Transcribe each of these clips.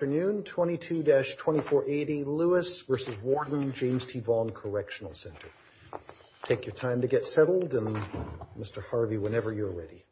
22-2480 Lewis v. Warden James T. Vaughan Correctional Center. Take your time to get settled, and Mr. Harvey, whenever you're ready.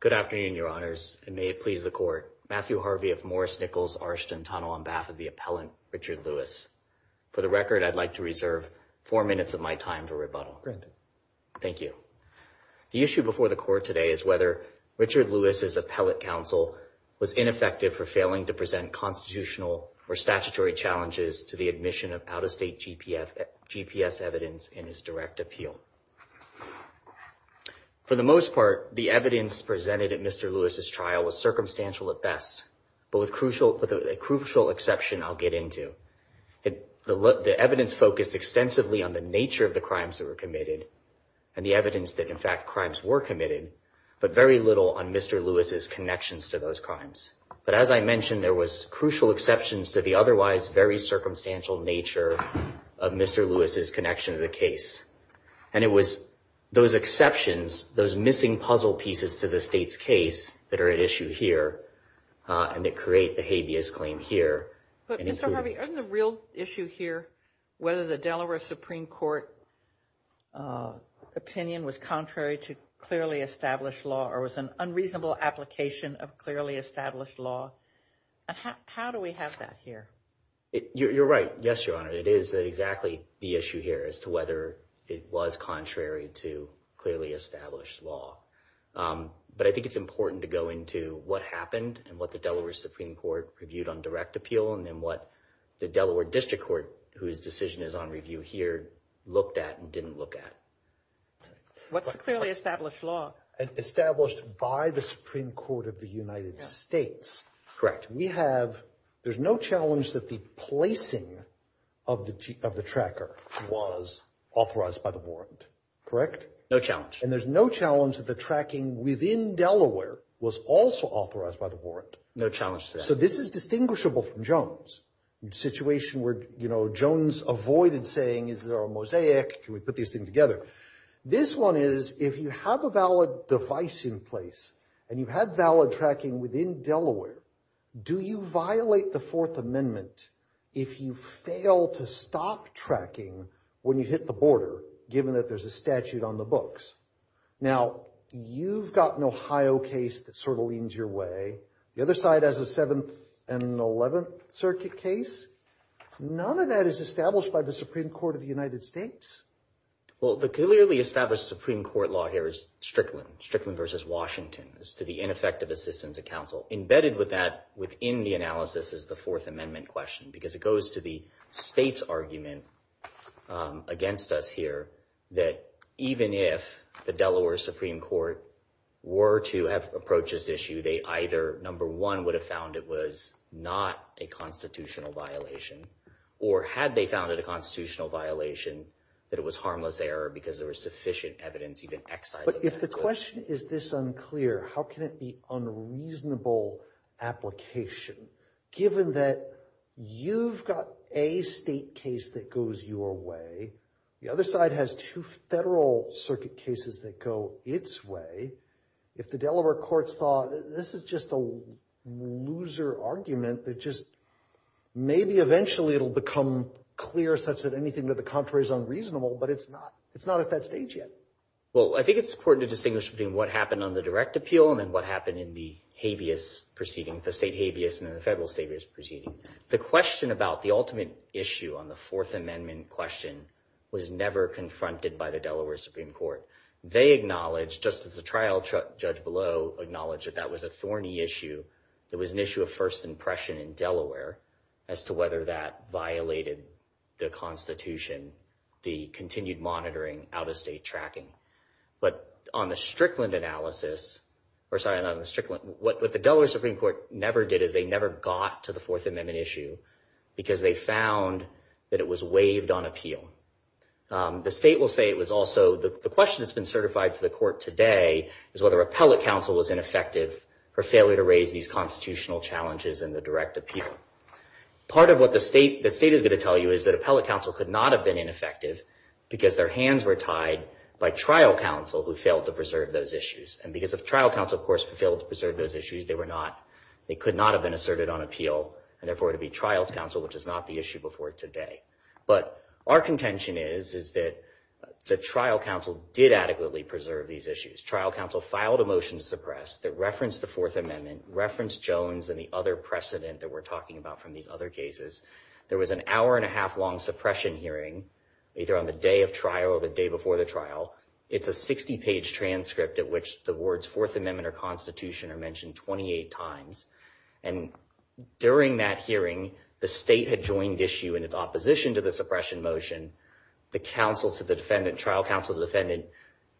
Good afternoon, Your Honors, and may it please the Court, Matthew Harvey of Morris Nichols Arshton Tunnel on behalf of the appellant Richard Lewis. For the record, I'd like to reserve four minutes of my time for rebuttal. Thank you. The issue before the Court today is whether Richard Lewis's appellate counsel was ineffective for failing to present constitutional or statutory challenges to the admission of out-of-state GPS evidence in his direct appeal. For the most part, the evidence presented at Mr. Lewis's trial was circumstantial at best, but with a crucial exception I'll get into. The evidence focused extensively on the nature of the crimes that were committed, and the evidence that, in fact, crimes were committed, but very little on Mr. Lewis's connections to those crimes. But as I mentioned, there was crucial exceptions to the otherwise very circumstantial nature of Mr. Lewis's connection to the case, and it was those exceptions, those missing puzzle pieces to the State's case that are at issue here, and that create the habeas claim here. But, Mr. Harvey, isn't the real issue here whether the Delaware Supreme Court opinion was contrary to clearly established law, or was an unreasonable application of clearly established law? How do we have that here? You're right. Yes, Your Honor, it is exactly the issue here as to whether it was contrary to clearly established law. But I think it's important to go into what happened, and what the Delaware Supreme Court reviewed on direct appeal, and then what the Delaware District Court, whose decision is on review here, looked at and didn't look at. What's the clearly established law? Established by the Supreme Court of the United States. We have, there's no challenge that the placing of the tracker was authorized by the warrant, correct? No challenge. And there's no challenge that the tracking within Delaware was also authorized by the No challenge to that. So this is distinguishable from Jones, the situation where, you know, Jones avoided saying, is there a mosaic? Can we put these things together? This one is, if you have a valid device in place, and you had valid tracking within Delaware, do you violate the Fourth Amendment if you fail to stop tracking when you hit the border, given that there's a statute on the books? Now you've got an Ohio case that sort of leans your way. The other side has a Seventh and Eleventh Circuit case. None of that is established by the Supreme Court of the United States. Well, the clearly established Supreme Court law here is Strickland. Strickland versus Washington. It's to the ineffective assistance of counsel. Embedded with that, within the analysis, is the Fourth Amendment question, because it goes to the state's argument against us here, that even if the Delaware Supreme Court were to have approached this issue, they either, number one, would have found it was not a constitutional violation, or had they found it a constitutional violation, that it was harmless error, because there was sufficient evidence, even excising it. But if the question is this unclear, how can it be unreasonable application, given that you've got a state case that goes your way, the other side has two federal circuit cases that go its way? If the Delaware courts thought, this is just a loser argument that just, maybe eventually it'll become clear such that anything to the contrary is unreasonable, but it's not. It's not at that stage yet. Well, I think it's important to distinguish between what happened on the direct appeal and then what happened in the habeas proceedings, the state habeas and then the federal habeas proceedings. The question about the ultimate issue on the Fourth Amendment question was never confronted by the Delaware Supreme Court. They acknowledged, just as the trial judge below acknowledged that that was a thorny issue. It was an issue of first impression in Delaware as to whether that violated the constitution, the continued monitoring out-of-state tracking. But on the Strickland analysis, or sorry, not on the Strickland, what the Delaware Supreme Court never did is they never got to the Fourth Amendment issue because they found that it was waived on appeal. The state will say it was also, the question that's been certified to the court today is whether appellate counsel was ineffective for failure to raise these constitutional challenges in the direct appeal. Part of what the state is going to tell you is that appellate counsel could not have been ineffective because their hands were tied by trial counsel who failed to preserve those issues. And because of trial counsel, of course, who failed to preserve those issues, they could not have been asserted on appeal and therefore to be trials counsel, which is not the issue before today. But our contention is, is that the trial counsel did adequately preserve these issues. Trial counsel filed a motion to suppress that referenced the Fourth Amendment, referenced Jones and the other precedent that we're talking about from these other cases. There was an hour and a half long suppression hearing, either on the day of trial or the day before the trial. It's a 60 page transcript at which the words Fourth Amendment or constitution are mentioned 28 times. And during that hearing, the state had joined issue in its opposition to the suppression motion. The counsel to the defendant, trial counsel to the defendant,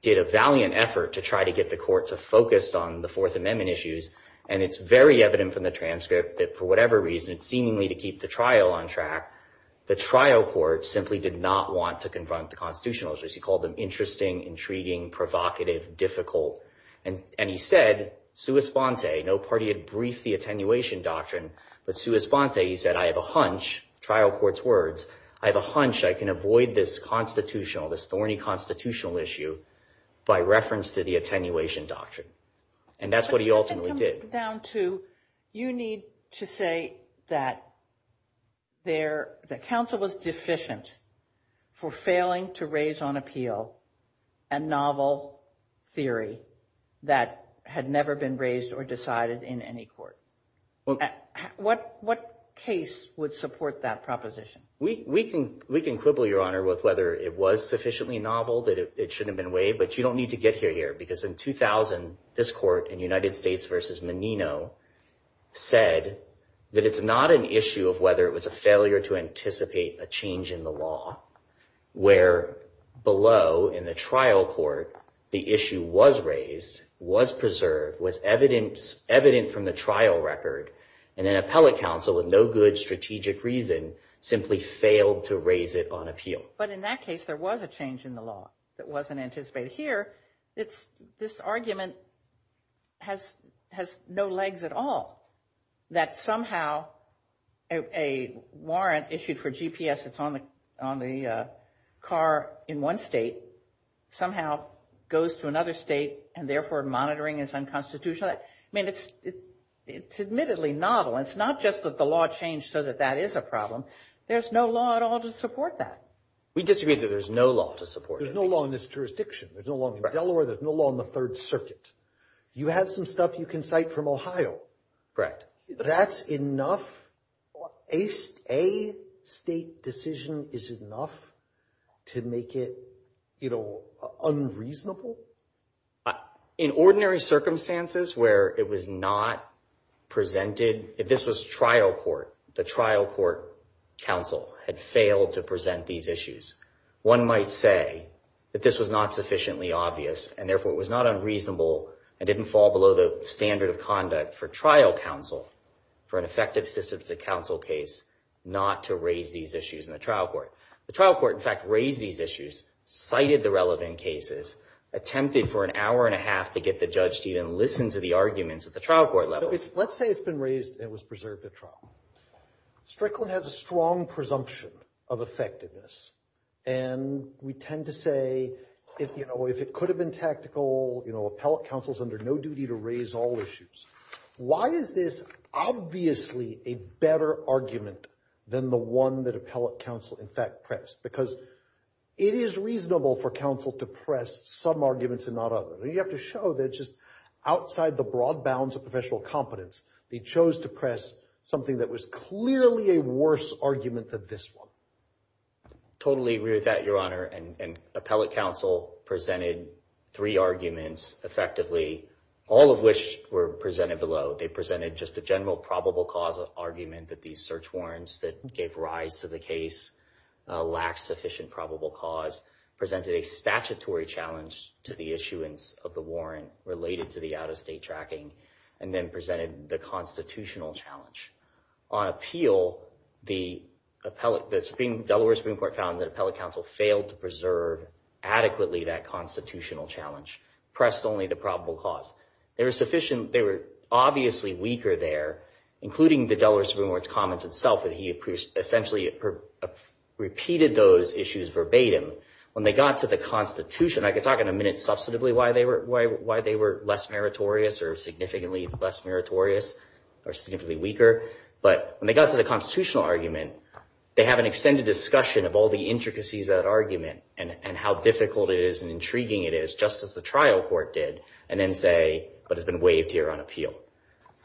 did a valiant effort to try to get the court to focus on the Fourth Amendment issues. And it's very evident from the transcript that for whatever reason, seemingly to keep the trial on track, the trial court simply did not want to confront the constitutional issues. He called them interesting, intriguing, provocative, difficult. And he said, sui sponte, no party had briefed the attenuation doctrine, but sui sponte, he said, I have a hunch, trial court's words, I have a hunch I can avoid this constitutional, this thorny constitutional issue by reference to the attenuation doctrine. And that's what he ultimately did. But doesn't it come down to, you need to say that there, that counsel was deficient for failing to raise on appeal a novel theory that had never been raised or decided in any court. What case would support that proposition? We can quibble, Your Honor, with whether it was sufficiently novel that it shouldn't have been waived, but you don't need to get here, because in 2000, this court in United States versus Menino said that it's not an issue of whether it was a failure to anticipate a change in the law, where below in the trial court, the issue was raised, was preserved, was evident from the trial record, and an appellate counsel with no good strategic reason simply failed to raise it on appeal. But in that case, there was a change in the law that wasn't anticipated here. This argument has no legs at all, that somehow a warrant issued for GPS that's on the car in one state somehow goes to another state, and therefore monitoring is unconstitutional. I mean, it's admittedly novel. It's not just that the law changed so that that is a problem. There's no law at all to support that. We disagree that there's no law to support it. There's no law in this jurisdiction. There's no law in Delaware. There's no law in the Third Circuit. You have some stuff you can cite from Ohio. That's enough? A state decision is enough to make it unreasonable? In ordinary circumstances where it was not presented, if this was trial court, the trial court counsel had failed to present these issues. One might say that this was not sufficiently obvious, and therefore it was not unreasonable and didn't fall below the standard of conduct for trial counsel for an effective system to counsel case not to raise these issues in the trial court. The trial court, in fact, raised these issues, cited the relevant cases, attempted for an hour and a half to get the judge to even listen to the arguments at the trial court level. Let's say it's been raised and it was preserved at trial. Strickland has a strong presumption of effectiveness, and we tend to say, you know, if it could have been tactical, you know, appellate counsel is under no duty to raise all issues. Why is this obviously a better argument than the one that appellate counsel, in fact, pressed? Because it is reasonable for counsel to press some arguments and not others. You have to show that just outside the broad bounds of professional competence, they chose to press something that was clearly a worse argument than this one. Totally agree with that, Your Honor, and appellate counsel presented three arguments effectively, all of which were presented below. They presented just a general probable cause argument that these search warrants that gave rise to the case lacked sufficient probable cause, presented a statutory challenge to the issuance of the warrant related to the out-of-state tracking, and then presented the constitutional challenge. On appeal, the Supreme, Delaware Supreme Court found that appellate counsel failed to preserve adequately that constitutional challenge, pressed only the probable cause. There was sufficient, they were obviously weaker there, including the Delaware Supreme Court's comments itself that he essentially repeated those issues verbatim. When they got to the Constitution, I could talk in a minute substantively why they were less meritorious or significantly less meritorious or significantly weaker. But when they got to the constitutional argument, they have an extended discussion of all the intricacies of that argument and how difficult it is and intriguing it is, just as the trial court did, and then say, but it's been waived here on appeal.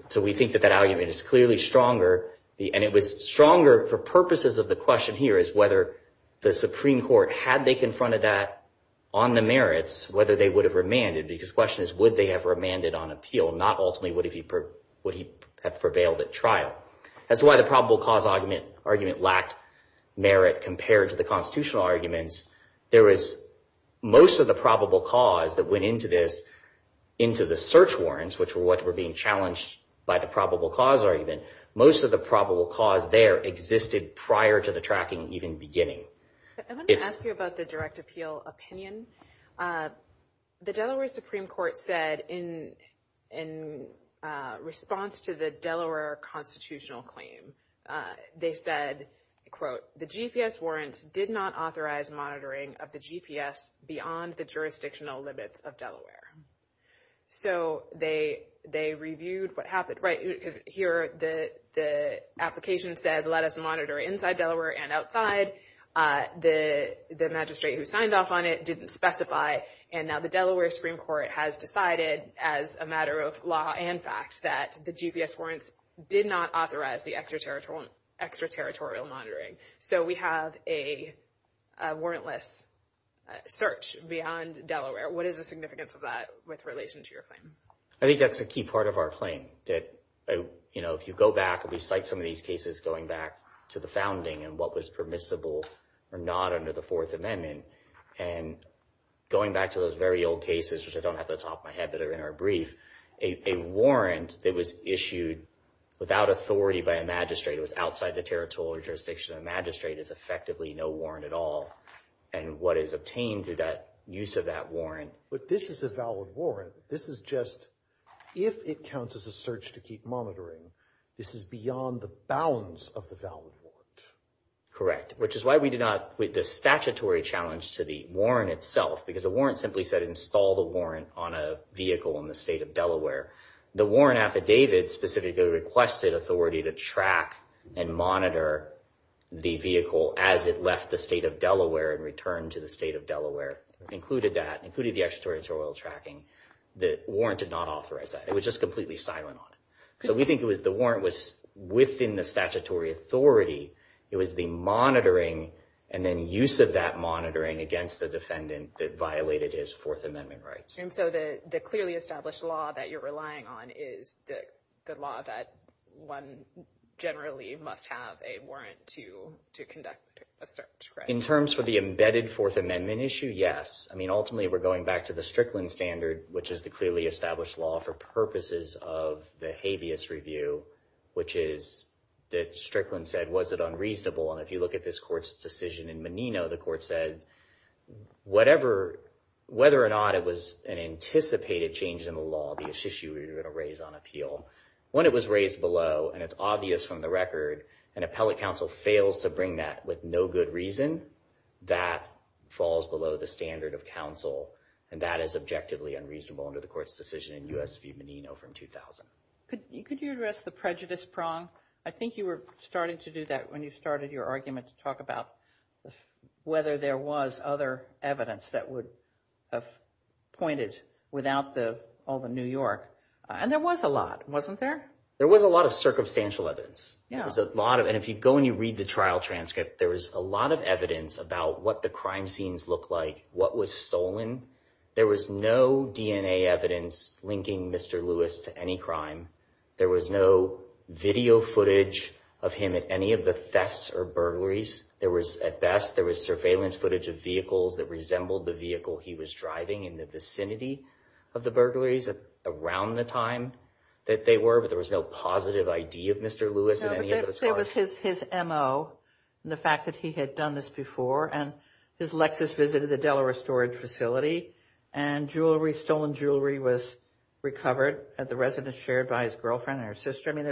So we think that that argument is clearly stronger, and it was stronger for purposes of the question here is whether the Supreme Court, had they confronted that on the merits, whether they would have remanded, because the question is, would they have remanded on appeal, not ultimately, would he have prevailed at trial? That's why the probable cause argument lacked merit compared to the constitutional arguments. There was most of the probable cause that went into this, into the search warrants, which were what were being challenged by the probable cause argument, most of the probable cause there existed prior to the tracking, even beginning. I want to ask you about the direct appeal opinion. The Delaware Supreme Court said in response to the Delaware constitutional claim, they said, quote, the GPS warrants did not authorize monitoring of the GPS beyond the jurisdictional limits of Delaware. So they reviewed what happened, right, here, the application said, let us monitor inside Delaware and outside, the magistrate who signed off on it didn't specify, and now the Delaware Supreme Court has decided, as a matter of law and fact, that the GPS warrants did not authorize the extraterritorial monitoring. So we have a warrantless search beyond Delaware, what is the significance of that with relation to your claim? I think that's a key part of our claim, that if you go back and we cite some of these cases going back to the founding and what was permissible or not under the Fourth Amendment, and going back to those very old cases, which I don't have at the top of my head, but are in our brief, a warrant that was issued without authority by a magistrate, it was outside the territorial jurisdiction of the magistrate, is effectively no warrant at all, and what is obtained through that use of that warrant. But this is a valid warrant, this is just, if it counts as a search to keep monitoring, this is beyond the bounds of the valid warrant. Correct, which is why we did not, with the statutory challenge to the warrant itself, because the warrant simply said install the warrant on a vehicle in the state of Delaware, the warrant affidavit specifically requested authority to track and monitor the vehicle as it left the state of Delaware and returned to the state of Delaware, included that, included the extraterritorial tracking, the warrant did not authorize that, it was just completely silent on it. So we think the warrant was within the statutory authority, it was the monitoring and then use of that monitoring against the defendant that violated his Fourth Amendment rights. And so the clearly established law that you're relying on is the law that one generally must have a warrant to conduct a search, right? In terms of the embedded Fourth Amendment issue, yes. I mean, ultimately, we're going back to the Strickland Standard, which is the clearly obvious review, which is that Strickland said, was it unreasonable? And if you look at this court's decision in Menino, the court said, whatever, whether or not it was an anticipated change in the law, the issue we were going to raise on appeal, when it was raised below, and it's obvious from the record, an appellate counsel fails to bring that with no good reason, that falls below the standard of counsel. And that is objectively unreasonable under the court's decision in U.S. v. Menino from 2000. Could you address the prejudice prong? I think you were starting to do that when you started your argument to talk about whether there was other evidence that would have pointed without all the New York. And there was a lot, wasn't there? There was a lot of circumstantial evidence. There was a lot of, and if you go and you read the trial transcript, there was a lot of evidence about what the crime scenes looked like, what was stolen. There was no DNA evidence linking Mr. Lewis to any crime. There was no video footage of him at any of the thefts or burglaries. There was, at best, there was surveillance footage of vehicles that resembled the vehicle he was driving in the vicinity of the burglaries around the time that they were, but there was no positive ID of Mr. Lewis at any of those cars. No, but there was his MO, and the fact that he had done this before, and his Lexus visited the Delaware storage facility, and jewelry, stolen jewelry was recovered at the residence shared by his girlfriend and her sister, I mean,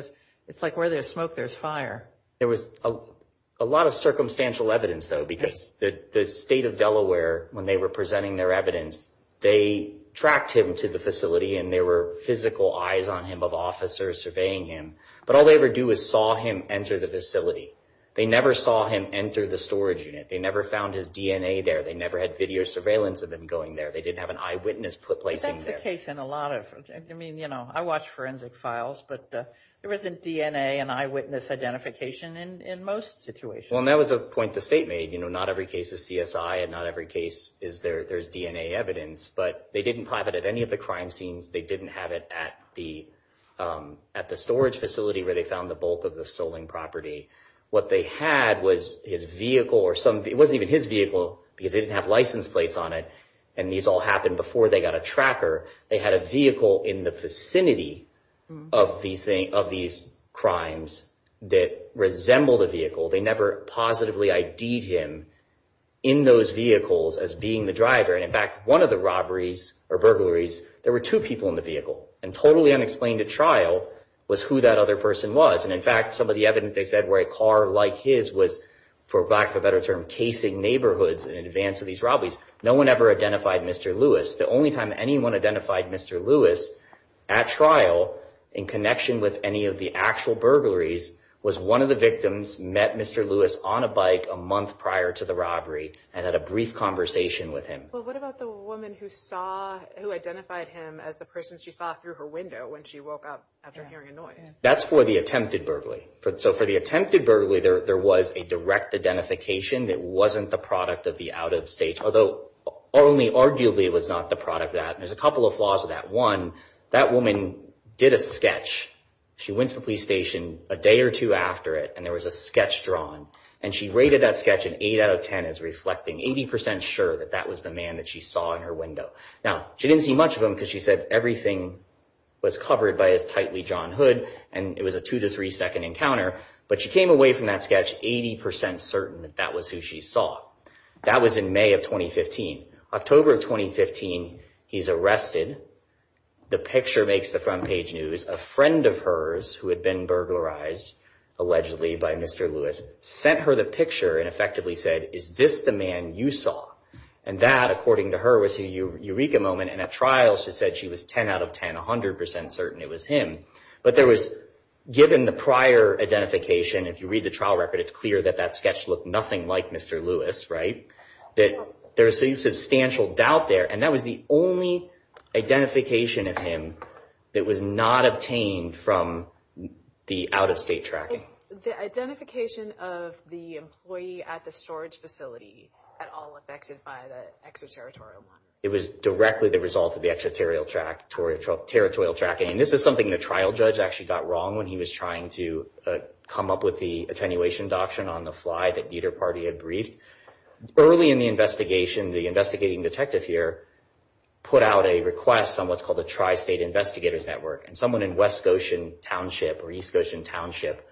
it's like where there's smoke, there's fire. There was a lot of circumstantial evidence, though, because the state of Delaware, when they were presenting their evidence, they tracked him to the facility and there were physical eyes on him of officers surveying him, but all they ever do is saw him enter the facility. They never saw him enter the storage unit. They never found his DNA there. They never had video surveillance of him going there. They didn't have an eyewitness placing there. But that's the case in a lot of, I mean, you know, I watch forensic files, but there wasn't DNA and eyewitness identification in most situations. Well, and that was a point the state made, you know, not every case is CSI and not every case is there's DNA evidence, but they didn't have it at any of the crime scenes. They didn't have it at the storage facility where they found the bulk of the stolen property. What they had was his vehicle or some, it wasn't even his vehicle because they didn't have license plates on it. And these all happened before they got a tracker. They had a vehicle in the vicinity of these crimes that resemble the vehicle. They never positively ID'd him in those vehicles as being the driver. And in fact, one of the robberies or burglaries, there were two people in the vehicle and totally unexplained at trial was who that other person was. And in fact, some of the evidence they said where a car like his was, for lack of a better term, casing neighborhoods in advance of these robberies. No one ever identified Mr. Lewis. The only time anyone identified Mr. Lewis at trial in connection with any of the actual burglaries was one of the victims met Mr. Lewis on a bike a month prior to the robbery and had a brief conversation with him. Well, what about the woman who saw, who identified him as the person she saw through her window when she woke up after hearing a noise? That's for the attempted burglary. So for the attempted burglary, there was a direct identification that wasn't the product of the out of state, although only arguably it was not the product of that. And there's a couple of flaws of that. One, that woman did a sketch. She went to the police station a day or two after it, and there was a sketch drawn. And she rated that sketch an 8 out of 10 as reflecting 80% sure that that was the man that she saw in her window. Now, she didn't see much of him because she said everything was covered by his tightly john hood, and it was a two to three second encounter. But she came away from that sketch 80% certain that that was who she saw. That was in May of 2015. October of 2015, he's arrested. The picture makes the front page news. A friend of hers who had been burglarized, allegedly by Mr. Lewis, sent her the picture and effectively said, is this the man you saw? And that, according to her, was a eureka moment. And at trial, she said she was 10 out of 10, 100% certain it was him. But there was, given the prior identification, if you read the trial record, it's clear that that sketch looked nothing like Mr. Lewis, right? That there's a substantial doubt there. And that was the only identification of him that was not obtained from the out-of-state tracking. The identification of the employee at the storage facility at all affected by the extraterritorial one? It was directly the result of the extraterritorial tracking. And this is something the trial judge actually got wrong when he was trying to come up with the attenuation doctrine on the fly that neither party had briefed. Early in the investigation, the investigating detective here put out a request on what's called the Tri-State Investigators Network. And someone in West Goshen Township or East Goshen Township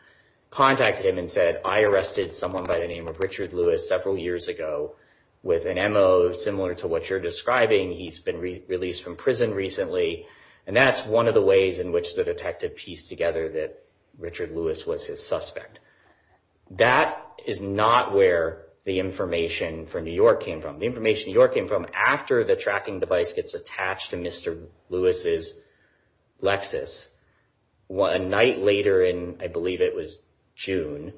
contacted him and said, I arrested someone by the name of Richard Lewis several years ago with an MO similar to what you're describing. He's been released from prison recently. And that's one of the ways in which the detective pieced together that Richard Lewis was his suspect. That is not where the information from New York came from. The information New York came from after the tracking device gets attached to Mr. Lewis's Lexus, a night later in, I believe it was June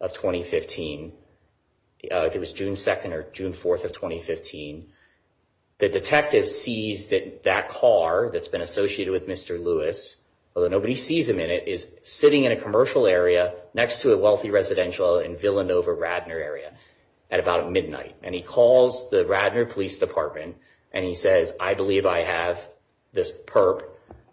of 2015. It was June 2nd or June 4th of 2015. The detective sees that that car that's been associated with Mr. Lewis, although nobody sees him in it, is sitting in a commercial area next to a wealthy residential in Villanova, Radnor area at about midnight. And he calls the Radnor Police Department and he says, I believe I have this perp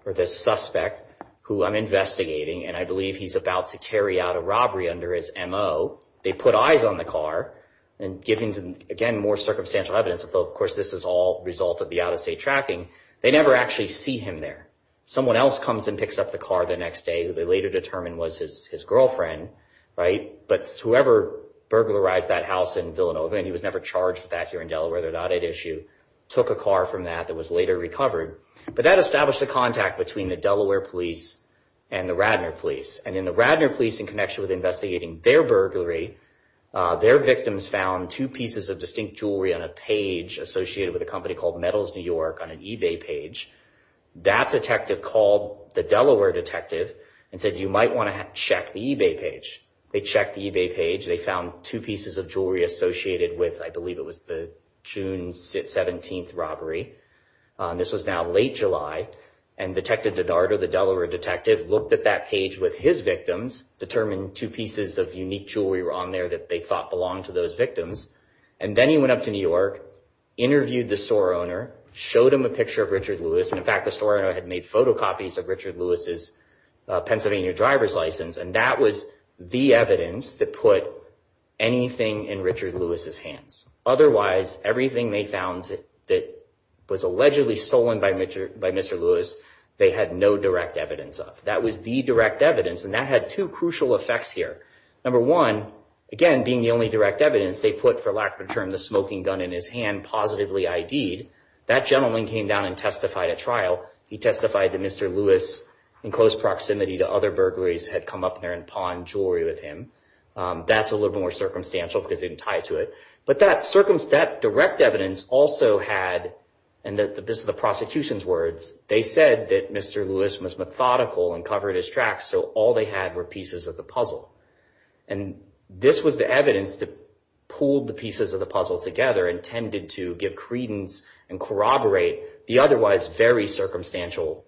or this suspect who I'm investigating. And I believe he's about to carry out a robbery under his MO. They put eyes on the car. And given, again, more circumstantial evidence, although, of course, this is all a result of the out-of-state tracking, they never actually see him there. Someone else comes and picks up the car the next day, who they later determined was his girlfriend, right? But whoever burglarized that house in Villanova, and he was never charged with that here in Delaware, they're not at issue, took a car from that that was later recovered. But that established a contact between the Delaware Police and the Radnor Police. And in the Radnor Police, in connection with investigating their burglary, their victims found two pieces of distinct jewelry on a page associated with a company called Metals New York on an eBay page. That detective called the Delaware detective and said, you might want to check the eBay page. They checked the eBay page. They found two pieces of jewelry associated with, I believe it was the June 17th robbery. This was now late July. And Detective DiDardo, the Delaware detective, looked at that page with his victims, determined two pieces of unique jewelry were on there that they thought belonged to those victims. And then he went up to New York, interviewed the store owner, showed him a picture of Richard Lewis. And in fact, the store owner had made photocopies of Richard Lewis's Pennsylvania driver's license. And that was the evidence that put anything in Richard Lewis's hands. Otherwise, everything they found that was allegedly stolen by Mr. Lewis, they had no direct evidence of. That was the direct evidence. And that had two crucial effects here. Number one, again, being the only direct evidence, they put, for lack of a term, the smoking gun in his hand, positively ID'd. That gentleman came down and testified at trial. He testified that Mr. Lewis, in close proximity to other burglaries, had come up there and pawned jewelry with him. That's a little more circumstantial because they didn't tie to it. But that direct evidence also had, and this is the prosecution's words, they said that Mr. Lewis was methodical and covered his tracks. So all they had were pieces of the puzzle. And this was the evidence that pulled the pieces of the puzzle together, intended to give credence and corroborate the otherwise very circumstantial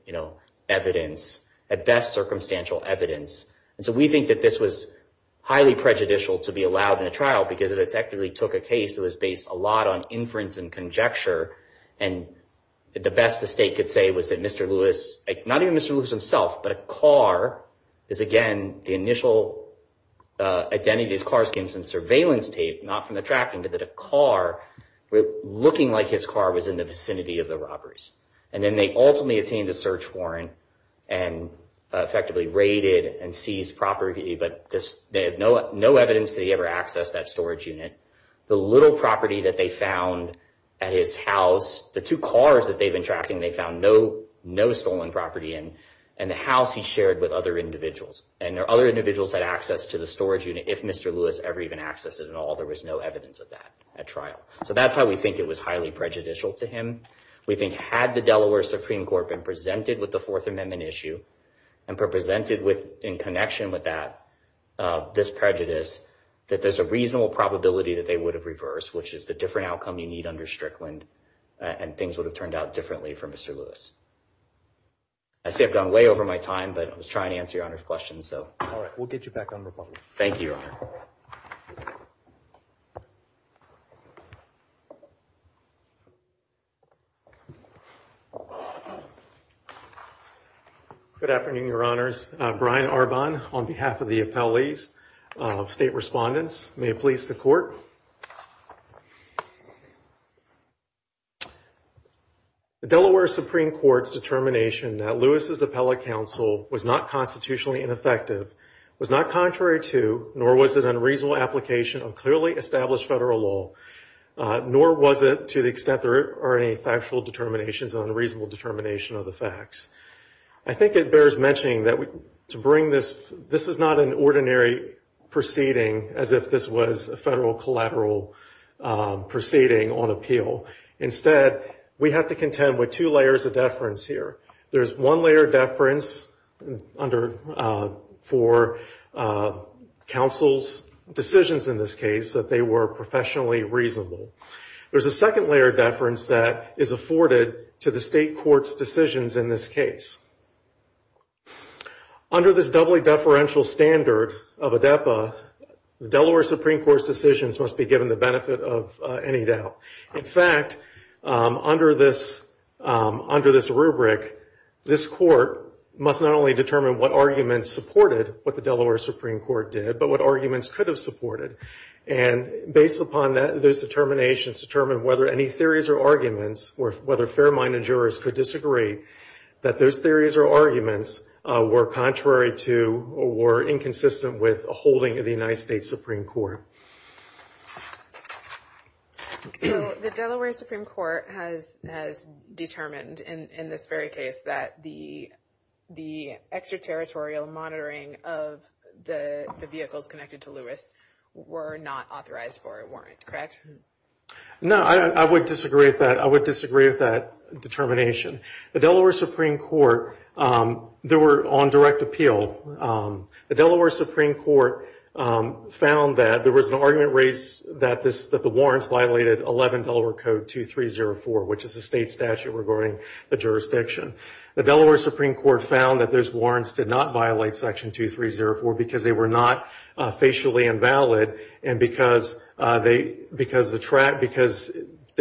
evidence, at best, circumstantial evidence. And so we think that this was highly prejudicial to be allowed in a trial because it effectively took a case that was based a lot on inference and conjecture. And the best the state could say was that Mr. Lewis, not even Mr. Lewis himself, but a car is, again, the initial identity of these cars came from surveillance tape, not from the tracking, but that a car, looking like his car, was in the vicinity of the robberies. And then they ultimately obtained a search warrant and effectively raided and seized property. But they had no evidence that he ever accessed that storage unit. The little property that they found at his house, the two cars that they've been tracking, they found no stolen property. And the house he shared with other individuals. And there are other individuals had access to the storage unit if Mr. Lewis ever even accessed it at all. There was no evidence of that at trial. So that's how we think it was highly prejudicial to him. We think had the Delaware Supreme Court been presented with the Fourth Amendment issue and presented with, in connection with that, this prejudice, that there's a reasonable probability that they would have reversed, which is the different outcome you need under Strickland, and things would have turned out differently for Mr. Lewis. I say I've gone way over my time, but I was trying to answer your Honor's question, so. All right. We'll get you back on the phone. Thank you, Your Honor. Good afternoon, Your Honors. Brian Arbon on behalf of the appellees, state respondents. May it please the Court. The Delaware Supreme Court's determination that Lewis's appellate counsel was not constitutionally ineffective was not contrary to, nor was it an unreasonable application of clearly established federal law, nor was it to the extent there are any factual determinations on a reasonable determination of the facts. I think it bears mentioning that to bring this, this is not an ordinary proceeding as if this was a federal collateral proceeding on appeal. Instead, we have to contend with two layers of deference here. There's one layer of deference for counsel's decisions in this case, that they were professionally reasonable. There's a second layer of deference that is afforded to the state court's decisions in this case. Under this doubly deferential standard of ADEPA, the Delaware Supreme Court's decisions must be given the benefit of any doubt. In fact, under this, under this rubric, this court must not only determine what arguments supported what the Delaware Supreme Court did, but what arguments could have supported. And based upon that, those determinations determine whether any theories or arguments, or whether fair-minded jurors could disagree that those theories or arguments were contrary to, or were inconsistent with, a holding of the United States Supreme Court. So the Delaware Supreme Court has determined in this very case that the extraterritorial monitoring of the vehicles connected to Lewis were not authorized for a warrant, correct? No, I would disagree with that. I would disagree with that determination. The Delaware Supreme Court, they were on direct appeal. The Delaware Supreme Court found that there was an argument raised that the warrants violated 11 Delaware Code 2304, which is the state statute regarding the jurisdiction. The Delaware Supreme Court found that those warrants did not violate Section 2304 because they were not facially invalid, and because they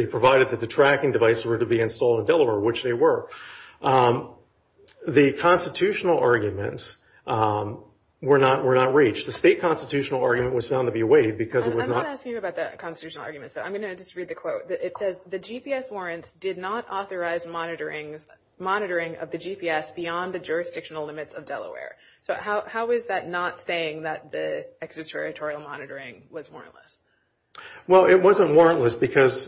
provided that the tracking device were to be installed in Delaware, which they were. The constitutional arguments were not reached. The state constitutional argument was found to be waived because it was not- I'm not asking you about the constitutional arguments, though. I'm going to just read the quote. It says, the GPS warrants did not authorize monitoring of the GPS beyond the jurisdictional limits of Delaware. So how is that not saying that the extraterritorial monitoring was warrantless? Well, it wasn't warrantless because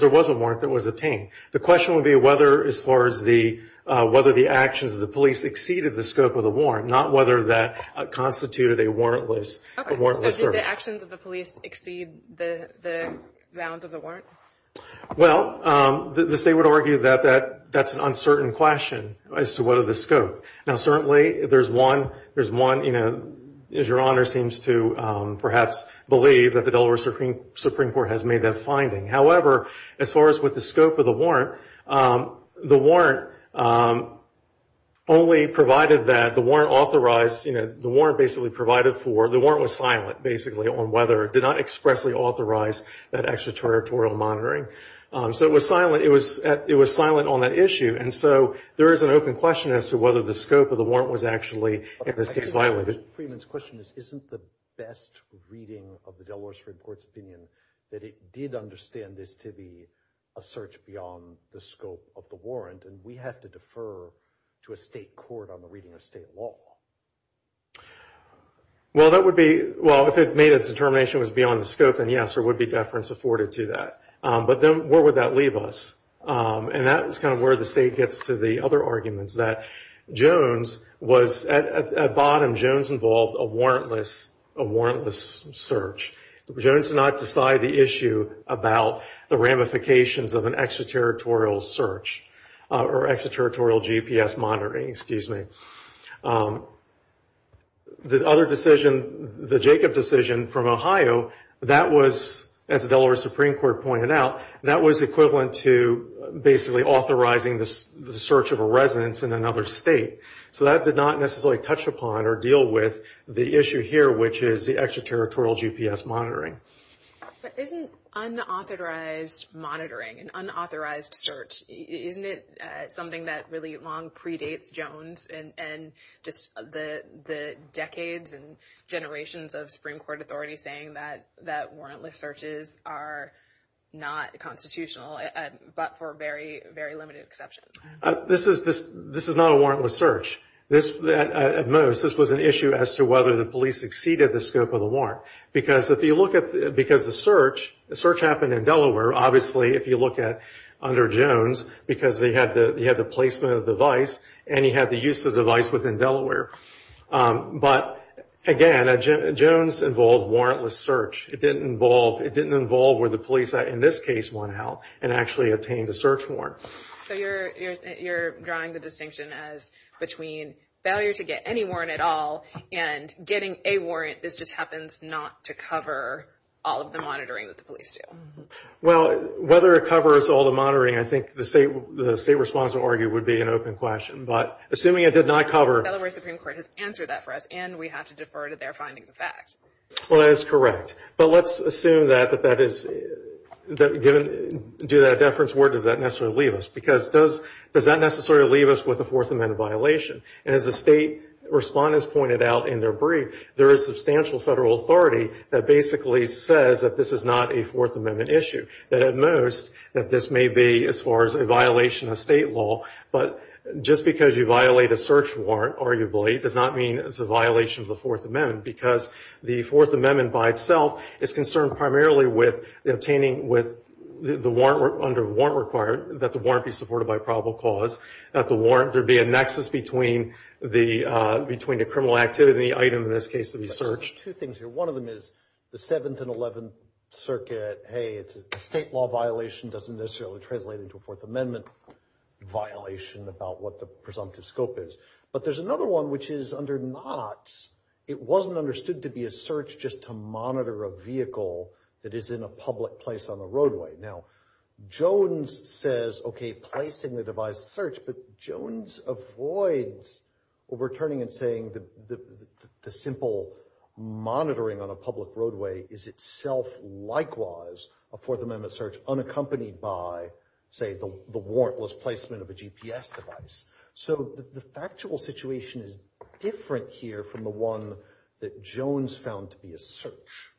there was a warrant that was obtained. The question would be whether, as far as the- whether the actions of the police exceeded the scope of the warrant, not whether that constituted a warrantless- Okay, so did the actions of the police exceed the bounds of the warrant? Well, the state would argue that that's an uncertain question as to what are the scope. Now, certainly, there's one- there's one, you know, as your Honor seems to perhaps believe, that the Delaware Supreme Court has made that finding. However, as far as with the scope of the warrant, the warrant only provided that the warrant authorized- you know, the warrant basically provided for- the warrant was silent, basically, on whether- did not expressly authorize that extraterritorial monitoring. So it was silent- it was silent on that issue, and so there is an open question as to whether the scope of the warrant was actually, in this case, violated. Freeman's question is, isn't the best reading of the Delaware Supreme Court's opinion that it did understand this to be a search beyond the scope of the warrant, and we have to defer to a state court on the reading of state law? Well, that would be- well, if it made a determination it was beyond the scope, then yes, there would be deference afforded to that. But then where would that leave us? And that is kind of where the state gets to the other arguments, that Jones was- at bottom, Jones involved a warrantless search. Jones did not decide the issue about the ramifications of an extraterritorial search, or extraterritorial GPS monitoring, excuse me. The other decision, the Jacob decision from Ohio, that was, as the Delaware Supreme Court pointed out, that was equivalent to basically authorizing the search of a residence in another state. So that did not necessarily touch upon or deal with the issue here, which is the extraterritorial GPS monitoring. But isn't unauthorized monitoring, an unauthorized search, isn't it something that really long predates Jones, and just the decades and generations of Supreme Court authority saying that warrantless searches are not constitutional, but for very, very limited exceptions? This is not a warrantless search. At most, this was an issue as to whether the police exceeded the scope of the warrant. Because if you look at- because the search happened in Delaware, obviously if you look at under Jones, because he had the placement of the device, and he had the use of the device within Delaware. But again, Jones involved warrantless search. It didn't involve where the police, in this case, went out and actually obtained a search warrant. So you're drawing the distinction as between failure to get any warrant at all and getting a warrant that just happens not to cover all of the monitoring that the police do. Well, whether it covers all the monitoring, I think the state response would argue would be an open question. But assuming it did not cover- Delaware Supreme Court has answered that for us, and we have to defer to their findings of fact. Well, that is correct. But let's assume that that is- that given- do that deference word, does that necessarily leave us? Because does that necessarily leave us with a Fourth Amendment violation? And as the state respondents pointed out in their brief, there is substantial federal authority that basically says that this is not a Fourth Amendment issue. That at most, that this may be as far as a violation of state law, but just because you violate a search warrant, arguably, does not mean it's a violation of the Fourth Amendment, because the Fourth Amendment by itself is concerned primarily with obtaining- with the warrant under warrant required, that the warrant be supported by probable cause, that the warrant- there be a nexus between the- between the criminal activity item, in this case, to be searched. Two things here. One of them is the 7th and 11th Circuit, hey, it's a state law violation, doesn't necessarily translate into a Fourth Amendment violation about what the presumptive scope is. But there's another one, which is under knots. It wasn't understood to be a search just to monitor a vehicle that is in a public place on the roadway. Now, Jones says, okay, placing the device search, but Jones avoids overturning and saying that the simple monitoring on a public roadway is itself likewise a Fourth Amendment search, unaccompanied by, say, the warrantless placement of a GPS device. So the factual situation is different here from the one that Jones found to be a search.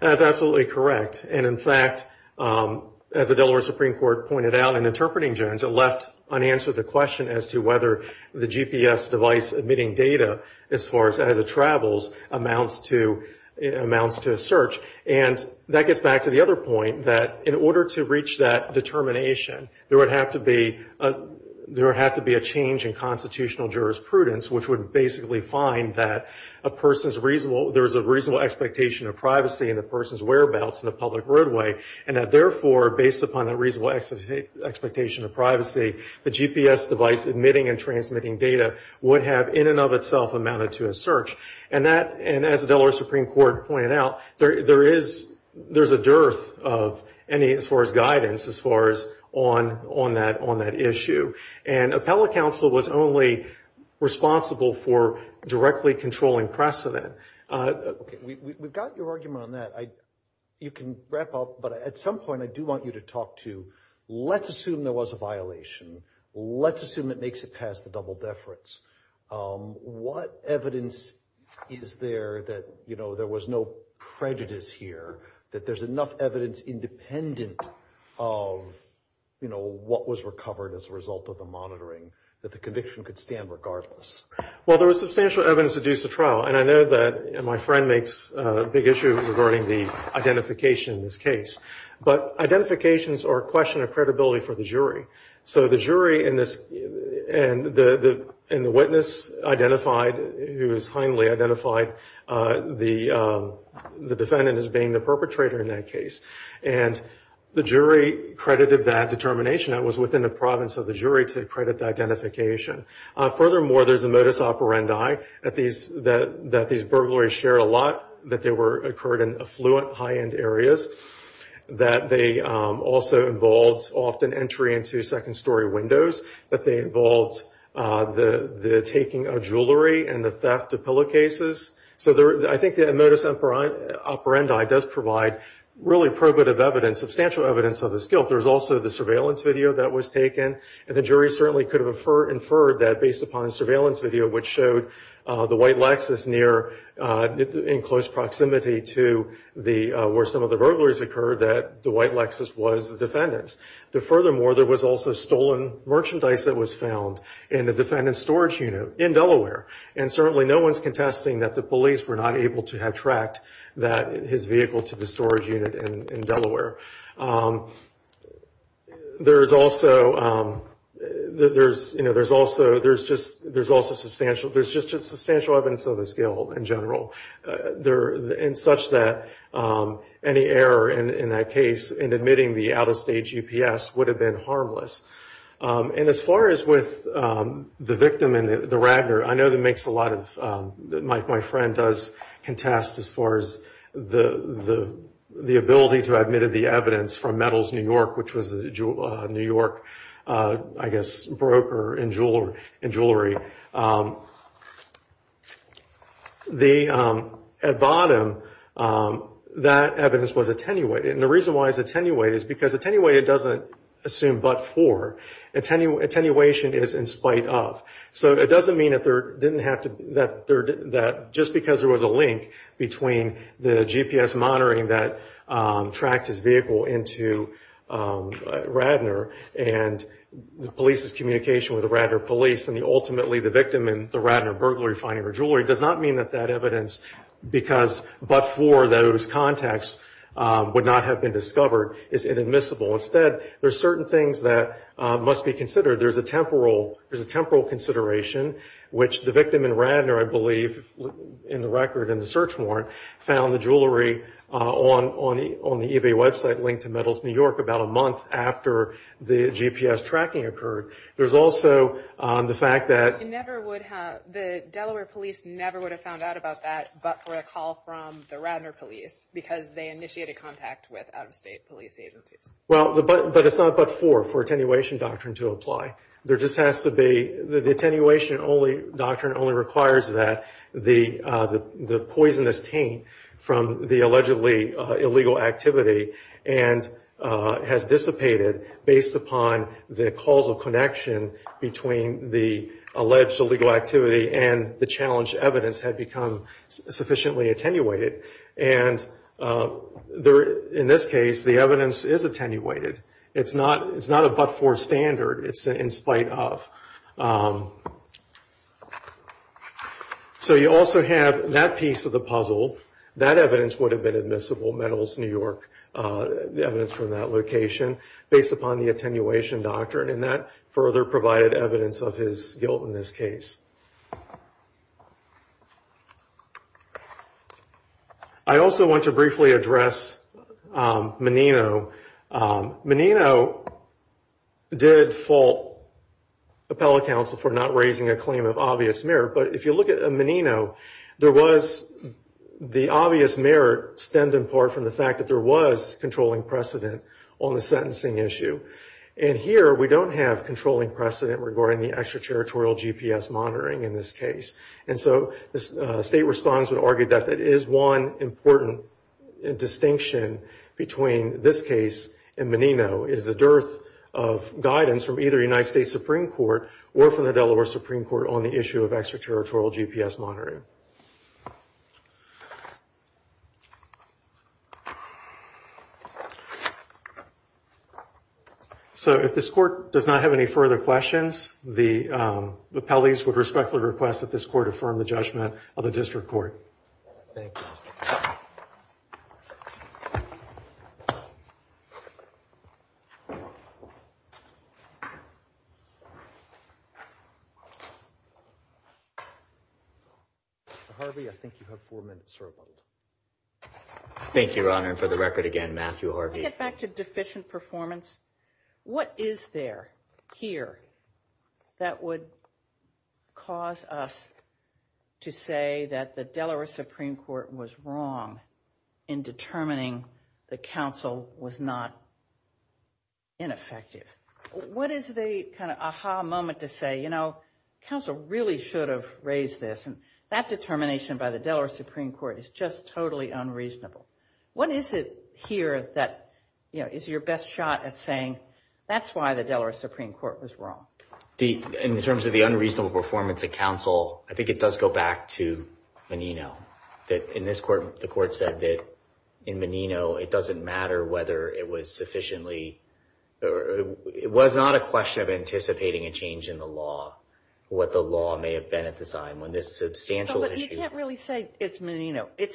That's absolutely correct. And in fact, as the Delaware Supreme Court pointed out in interpreting Jones, it left unanswered the question as to whether the GPS device emitting data, as far as it travels, amounts to a search. And that gets back to the other point, that in order to reach that determination, there would have to be a change in constitutional jurisprudence, which would basically find that there's a reasonable expectation of privacy in the person's whereabouts in a public roadway, and that therefore, based upon that reasonable expectation of privacy, the GPS device emitting and transmitting data would have in and of itself amounted to a search. And that, and as the Delaware Supreme Court pointed out, there is a dearth of any, as far as guidance, as far as on that issue. And appellate counsel was only responsible for directly controlling precedent. Okay, we've got your argument on that. You can wrap up, but at some point, I do want you to talk to, let's assume there was a violation. Let's assume it makes it past the double deference. What evidence is there that, you know, there was no prejudice here, that there's enough evidence independent of, you know, what was recovered as a result of the monitoring that the conviction could stand regardless? Well, there was substantial evidence to do so trial, and I know that my friend makes a big issue regarding the identification in this case. But identifications are a question of credibility for the jury. So the jury in this, and the witness identified, who is kindly identified, the defendant as being the perpetrator in that case. And the jury credited that determination that was within the province of the jury to credit the identification. Furthermore, there's a modus operandi that these burglaries shared a lot, that they occurred in affluent, high-end areas, that they also involved often entry into second-story windows, that they involved the taking of jewelry and the theft of pillowcases. So I think the modus operandi does provide really probative evidence, substantial evidence of this guilt. There's also the surveillance video that was taken, and the jury certainly could have inferred that based upon the surveillance video, which showed the white Lexus in close proximity to where some of the burglars occurred, that the white Lexus was the defendant's. But furthermore, there was also stolen merchandise that was found in the defendant's storage unit in Delaware. And certainly, no one's contesting that the police were not able to have tracked that his vehicle to the storage unit in Delaware. There's also just substantial evidence of this guilt in general, in such that any error in that case in admitting the out-of-state GPS would have been harmless. And as far as with the victim and the Ragnar, I know that makes a lot of... My friend does contest as far as the ability to admit the evidence from Metals New York, which was a New York, I guess, broker in jewelry. At bottom, that evidence was attenuated. And the reason why it's attenuated is because attenuated doesn't assume but for. Attenuation is in spite of. So it doesn't mean that just because there was a link between the GPS monitoring that tracked his vehicle into Ragnar, and the police's communication with the Ragnar police, and ultimately the victim in the Ragnar burglary finding her jewelry, does not mean that that evidence, because but for those contacts, would not have been discovered, is inadmissible. Instead, there's certain things that must be considered. There's a temporal consideration, which the victim in Ragnar, I believe, in the record in the search warrant, found the jewelry on the eBay website linked to Metals New York about a month after the GPS tracking occurred. There's also the fact that... The Delaware police never would have found out about that but for a call from the Ragnar police, because they initiated contact with out-of-state police agencies. Well, but it's not but for, for attenuation doctrine to apply. There just has to be... The attenuation doctrine only requires that the poisonous taint from the allegedly illegal activity and has dissipated based upon the causal connection between the alleged illegal activity and the challenged evidence have become sufficiently attenuated. And in this case, the evidence is attenuated. It's not a but for standard, it's in spite of. So you also have that piece of the puzzle. That evidence would have been admissible, Metals New York, the evidence from that location, based upon the attenuation doctrine. And that further provided evidence of his guilt in this case. I also want to briefly address Menino. Menino did fault appellate counsel for not raising a claim of obvious merit. But if you look at Menino, there was the obvious merit stemmed in part from the fact that there was controlling precedent on the sentencing issue. And here we don't have controlling precedent regarding the extra-territorial GPS monitoring in this case. And so the state response would argue that that is one important distinction between this case and Menino, is the dearth of guidance from either the United States Supreme Court or from the Delaware Supreme Court on the issue of extra-territorial GPS monitoring. So if this court does not have any further questions, the appellees would respectfully request that this court affirm the judgment of the district court. Thank you, Your Honor. And for the record again, Matthew Harvey. Can I get back to deficient performance? What is there here that would cause us to say that the Delaware Supreme Court was wrong in determining the counsel was not ineffective? What is the kind of aha moment to say, you know, counsel really should have raised this, and that determination by the Delaware Supreme Court is just totally unreasonable? What is it here that is your best shot at saying, that's why the Delaware Supreme Court was wrong? In terms of the unreasonable performance of counsel, I think it does go back to Menino. In this court, the court said that in Menino, it doesn't matter whether it was sufficiently, it was not a question of anticipating a change in the law, what the law may have been at the time when this substantial issue... It's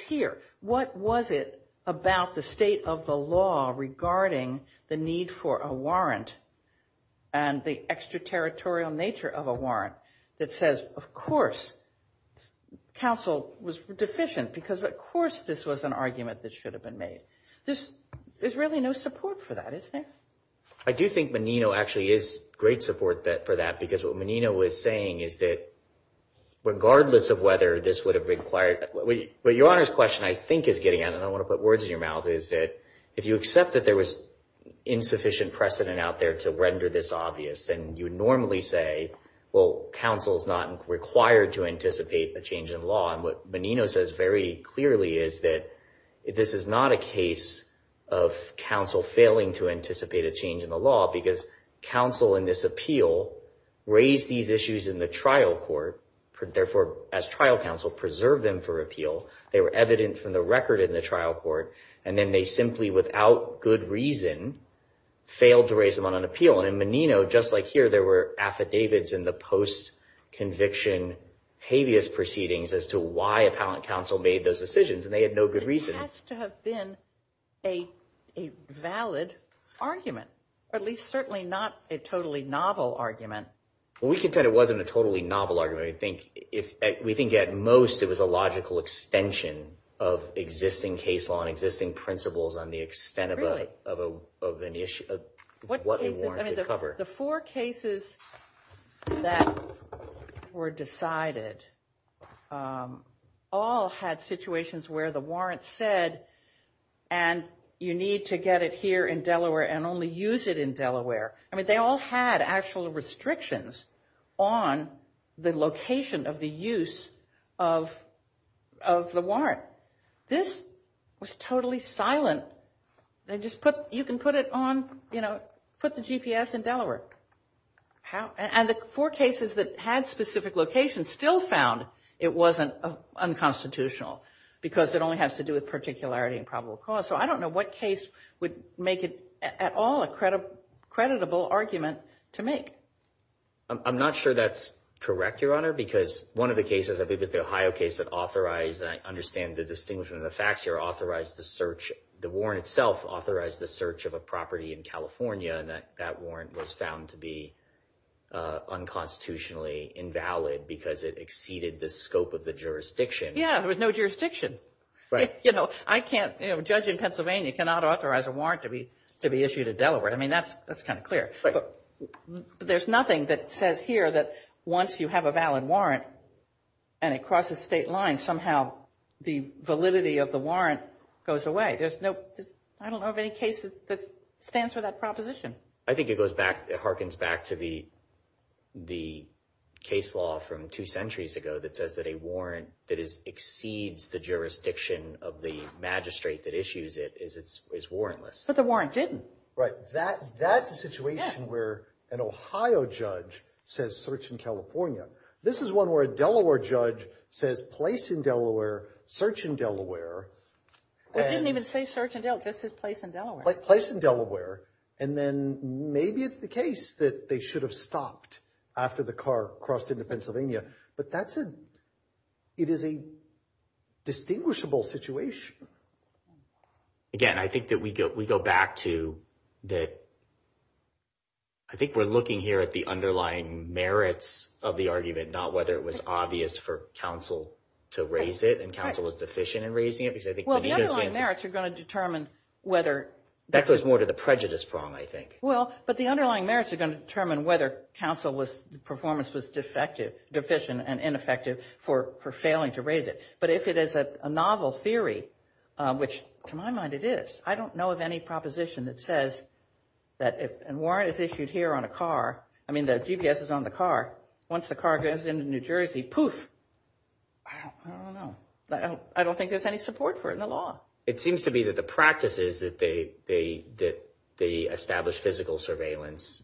here. What was it about the state of the law regarding the need for a warrant and the extraterritorial nature of a warrant that says, of course, counsel was deficient because, of course, this was an argument that should have been made? There's really no support for that, is there? I do think Menino actually is great support for that because what Menino was saying is that regardless of whether this would have required... Your Honor's question, I think, is getting at, and I want to put words in your mouth, is that if you accept that there was insufficient precedent out there to render this obvious, then you normally say, well, counsel's not required to anticipate a change in law. And what Menino says very clearly is that this is not a case of counsel failing to anticipate a change in the law because counsel in this appeal raised these issues in the trial court and therefore, as trial counsel, preserved them for appeal. They were evident from the record in the trial court, and then they simply, without good reason, failed to raise them on an appeal. And in Menino, just like here, there were affidavits in the post-conviction habeas proceedings as to why appellant counsel made those decisions, and they had no good reason. It has to have been a valid argument, or at least certainly not a totally novel argument. We can say it wasn't a totally novel argument. We think at most it was a logical extension of existing case law and existing principles on the extent of what a warrant should cover. The four cases that were decided all had situations where the warrant said, and you need to get it here in Delaware and only use it in Delaware. I mean, they all had actual restrictions on the location of the use of the warrant. This was totally silent. They just put, you can put it on, you know, put the GPS in Delaware. And the four cases that had specific locations still found it wasn't unconstitutional because it only has to do with particularity and probable cause. So I don't know what case would make it at all a creditable argument to make. I'm not sure that's correct, Your Honor, because one of the cases, I think it was the Ohio case that authorized, I understand the distinction in the facts here, authorized the search, the warrant itself authorized the search of a property in California and that warrant was found to be unconstitutionally invalid because it exceeded the scope of the jurisdiction. Yeah, there was no jurisdiction. You know, I can't, a judge in Pennsylvania cannot authorize a warrant to be issued in Delaware. I mean, that's kind of clear. But there's nothing that says here that once you have a valid warrant and it crosses state lines, somehow the validity of the warrant goes away. There's no, I don't know of any case that stands for that proposition. I think it goes back, it harkens back to the case law from two centuries ago that says that a warrant that exceeds the jurisdiction of the magistrate that issues it is warrantless. But the warrant didn't. Right, that's a situation where an Ohio judge says search in California. This is one where a Delaware judge says place in Delaware, search in Delaware. It didn't even say search in Delaware, it just said place in Delaware. Place in Delaware. And then maybe it's the case that they should have stopped after the car crossed into Pennsylvania. But that's a, it is a distinguishable situation. Again, I think that we go back to the, I think we're looking here at the underlying merits of the argument, not whether it was obvious for counsel to raise it and counsel was deficient in raising it. Well, the underlying merits are going to determine whether... That goes more to the prejudice prong, I think. Well, but the underlying merits are going to determine whether counsel's performance was deficient and ineffective for failing to raise it. But if it is a novel theory, which to my mind it is, I don't know of any proposition that says that if a warrant is issued here on a car, I mean the GPS is on the car, once the car goes into New Jersey, poof. I don't know. I don't think there's any support for it in the law. It seems to me that the practice is that they establish physical surveillance.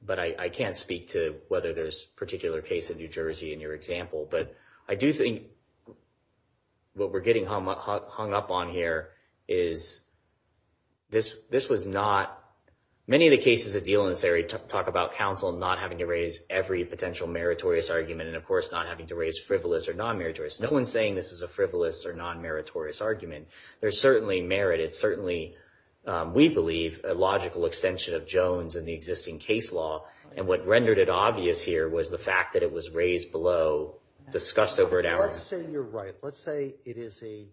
But I can't speak to whether there's a particular case in New Jersey in your example. But I do think what we're getting hung up on here is this was not... Many of the cases of dealings theory talk about counsel not having to raise every potential meritorious argument and of course not having to raise frivolous or non-meritorious. No one's saying this is a frivolous or non-meritorious argument. There's certainly merit. It's certainly, we believe, a logical extension of Jones and the existing case law. And what rendered it obvious here was the fact that it was raised below, discussed over an hour. Let's say you're right. Let's say it is a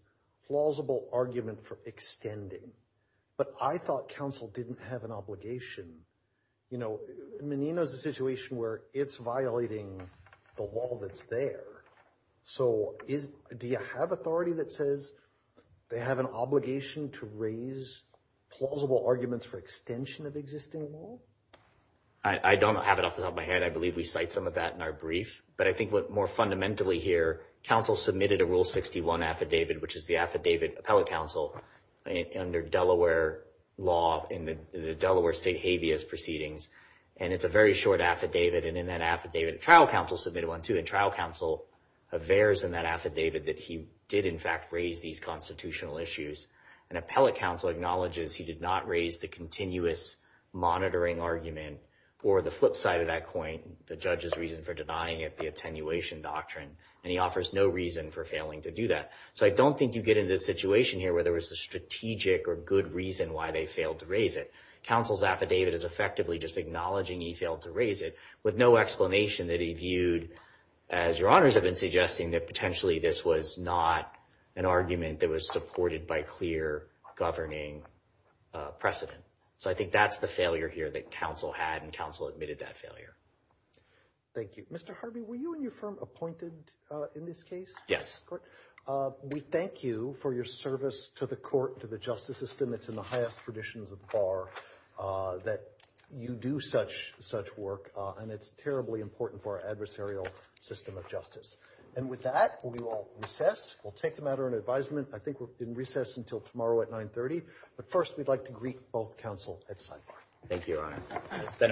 plausible argument for extending. But I thought counsel didn't have an obligation. Menino's a situation where it's violating the law that's there. So do you have authority that says they have an obligation to raise plausible arguments for extension of existing law? I don't have it off the top of my head. I believe we cite some of that in our brief. But I think more fundamentally here, counsel submitted a Rule 61 affidavit, which is the affidavit appellate counsel under Delaware law in the Delaware state habeas proceedings. And it's a very short affidavit. And in that affidavit, trial counsel submitted one too. And trial counsel avers in that affidavit that he did in fact raise these constitutional issues. And appellate counsel acknowledges he did not raise the continuous monitoring argument or the flip side of that coin, the judge's reason for denying it, the attenuation doctrine. And he offers no reason for failing to do that. So I don't think you get into the situation here where there was a strategic or good reason why they failed to raise it. Counsel's affidavit is effectively just acknowledging he failed to raise it with no explanation that he viewed, as your honors have been suggesting, that potentially this was not an argument that was supported by clear governing precedent. So I think that's the failure here that counsel had and counsel admitted that failure. Thank you. Mr. Harvey, were you and your firm appointed in this case? Yes. We thank you for your service to the court, to the justice system. It's in the highest traditions of bar that you do such work. And it's terribly important for our adversarial system of justice. And with that, we will recess. We'll take the matter in advisement. I think we'll recess until tomorrow at 930. But first, we'd like to greet both counsel at sign. Thank you, your honor. It's been a pleasure.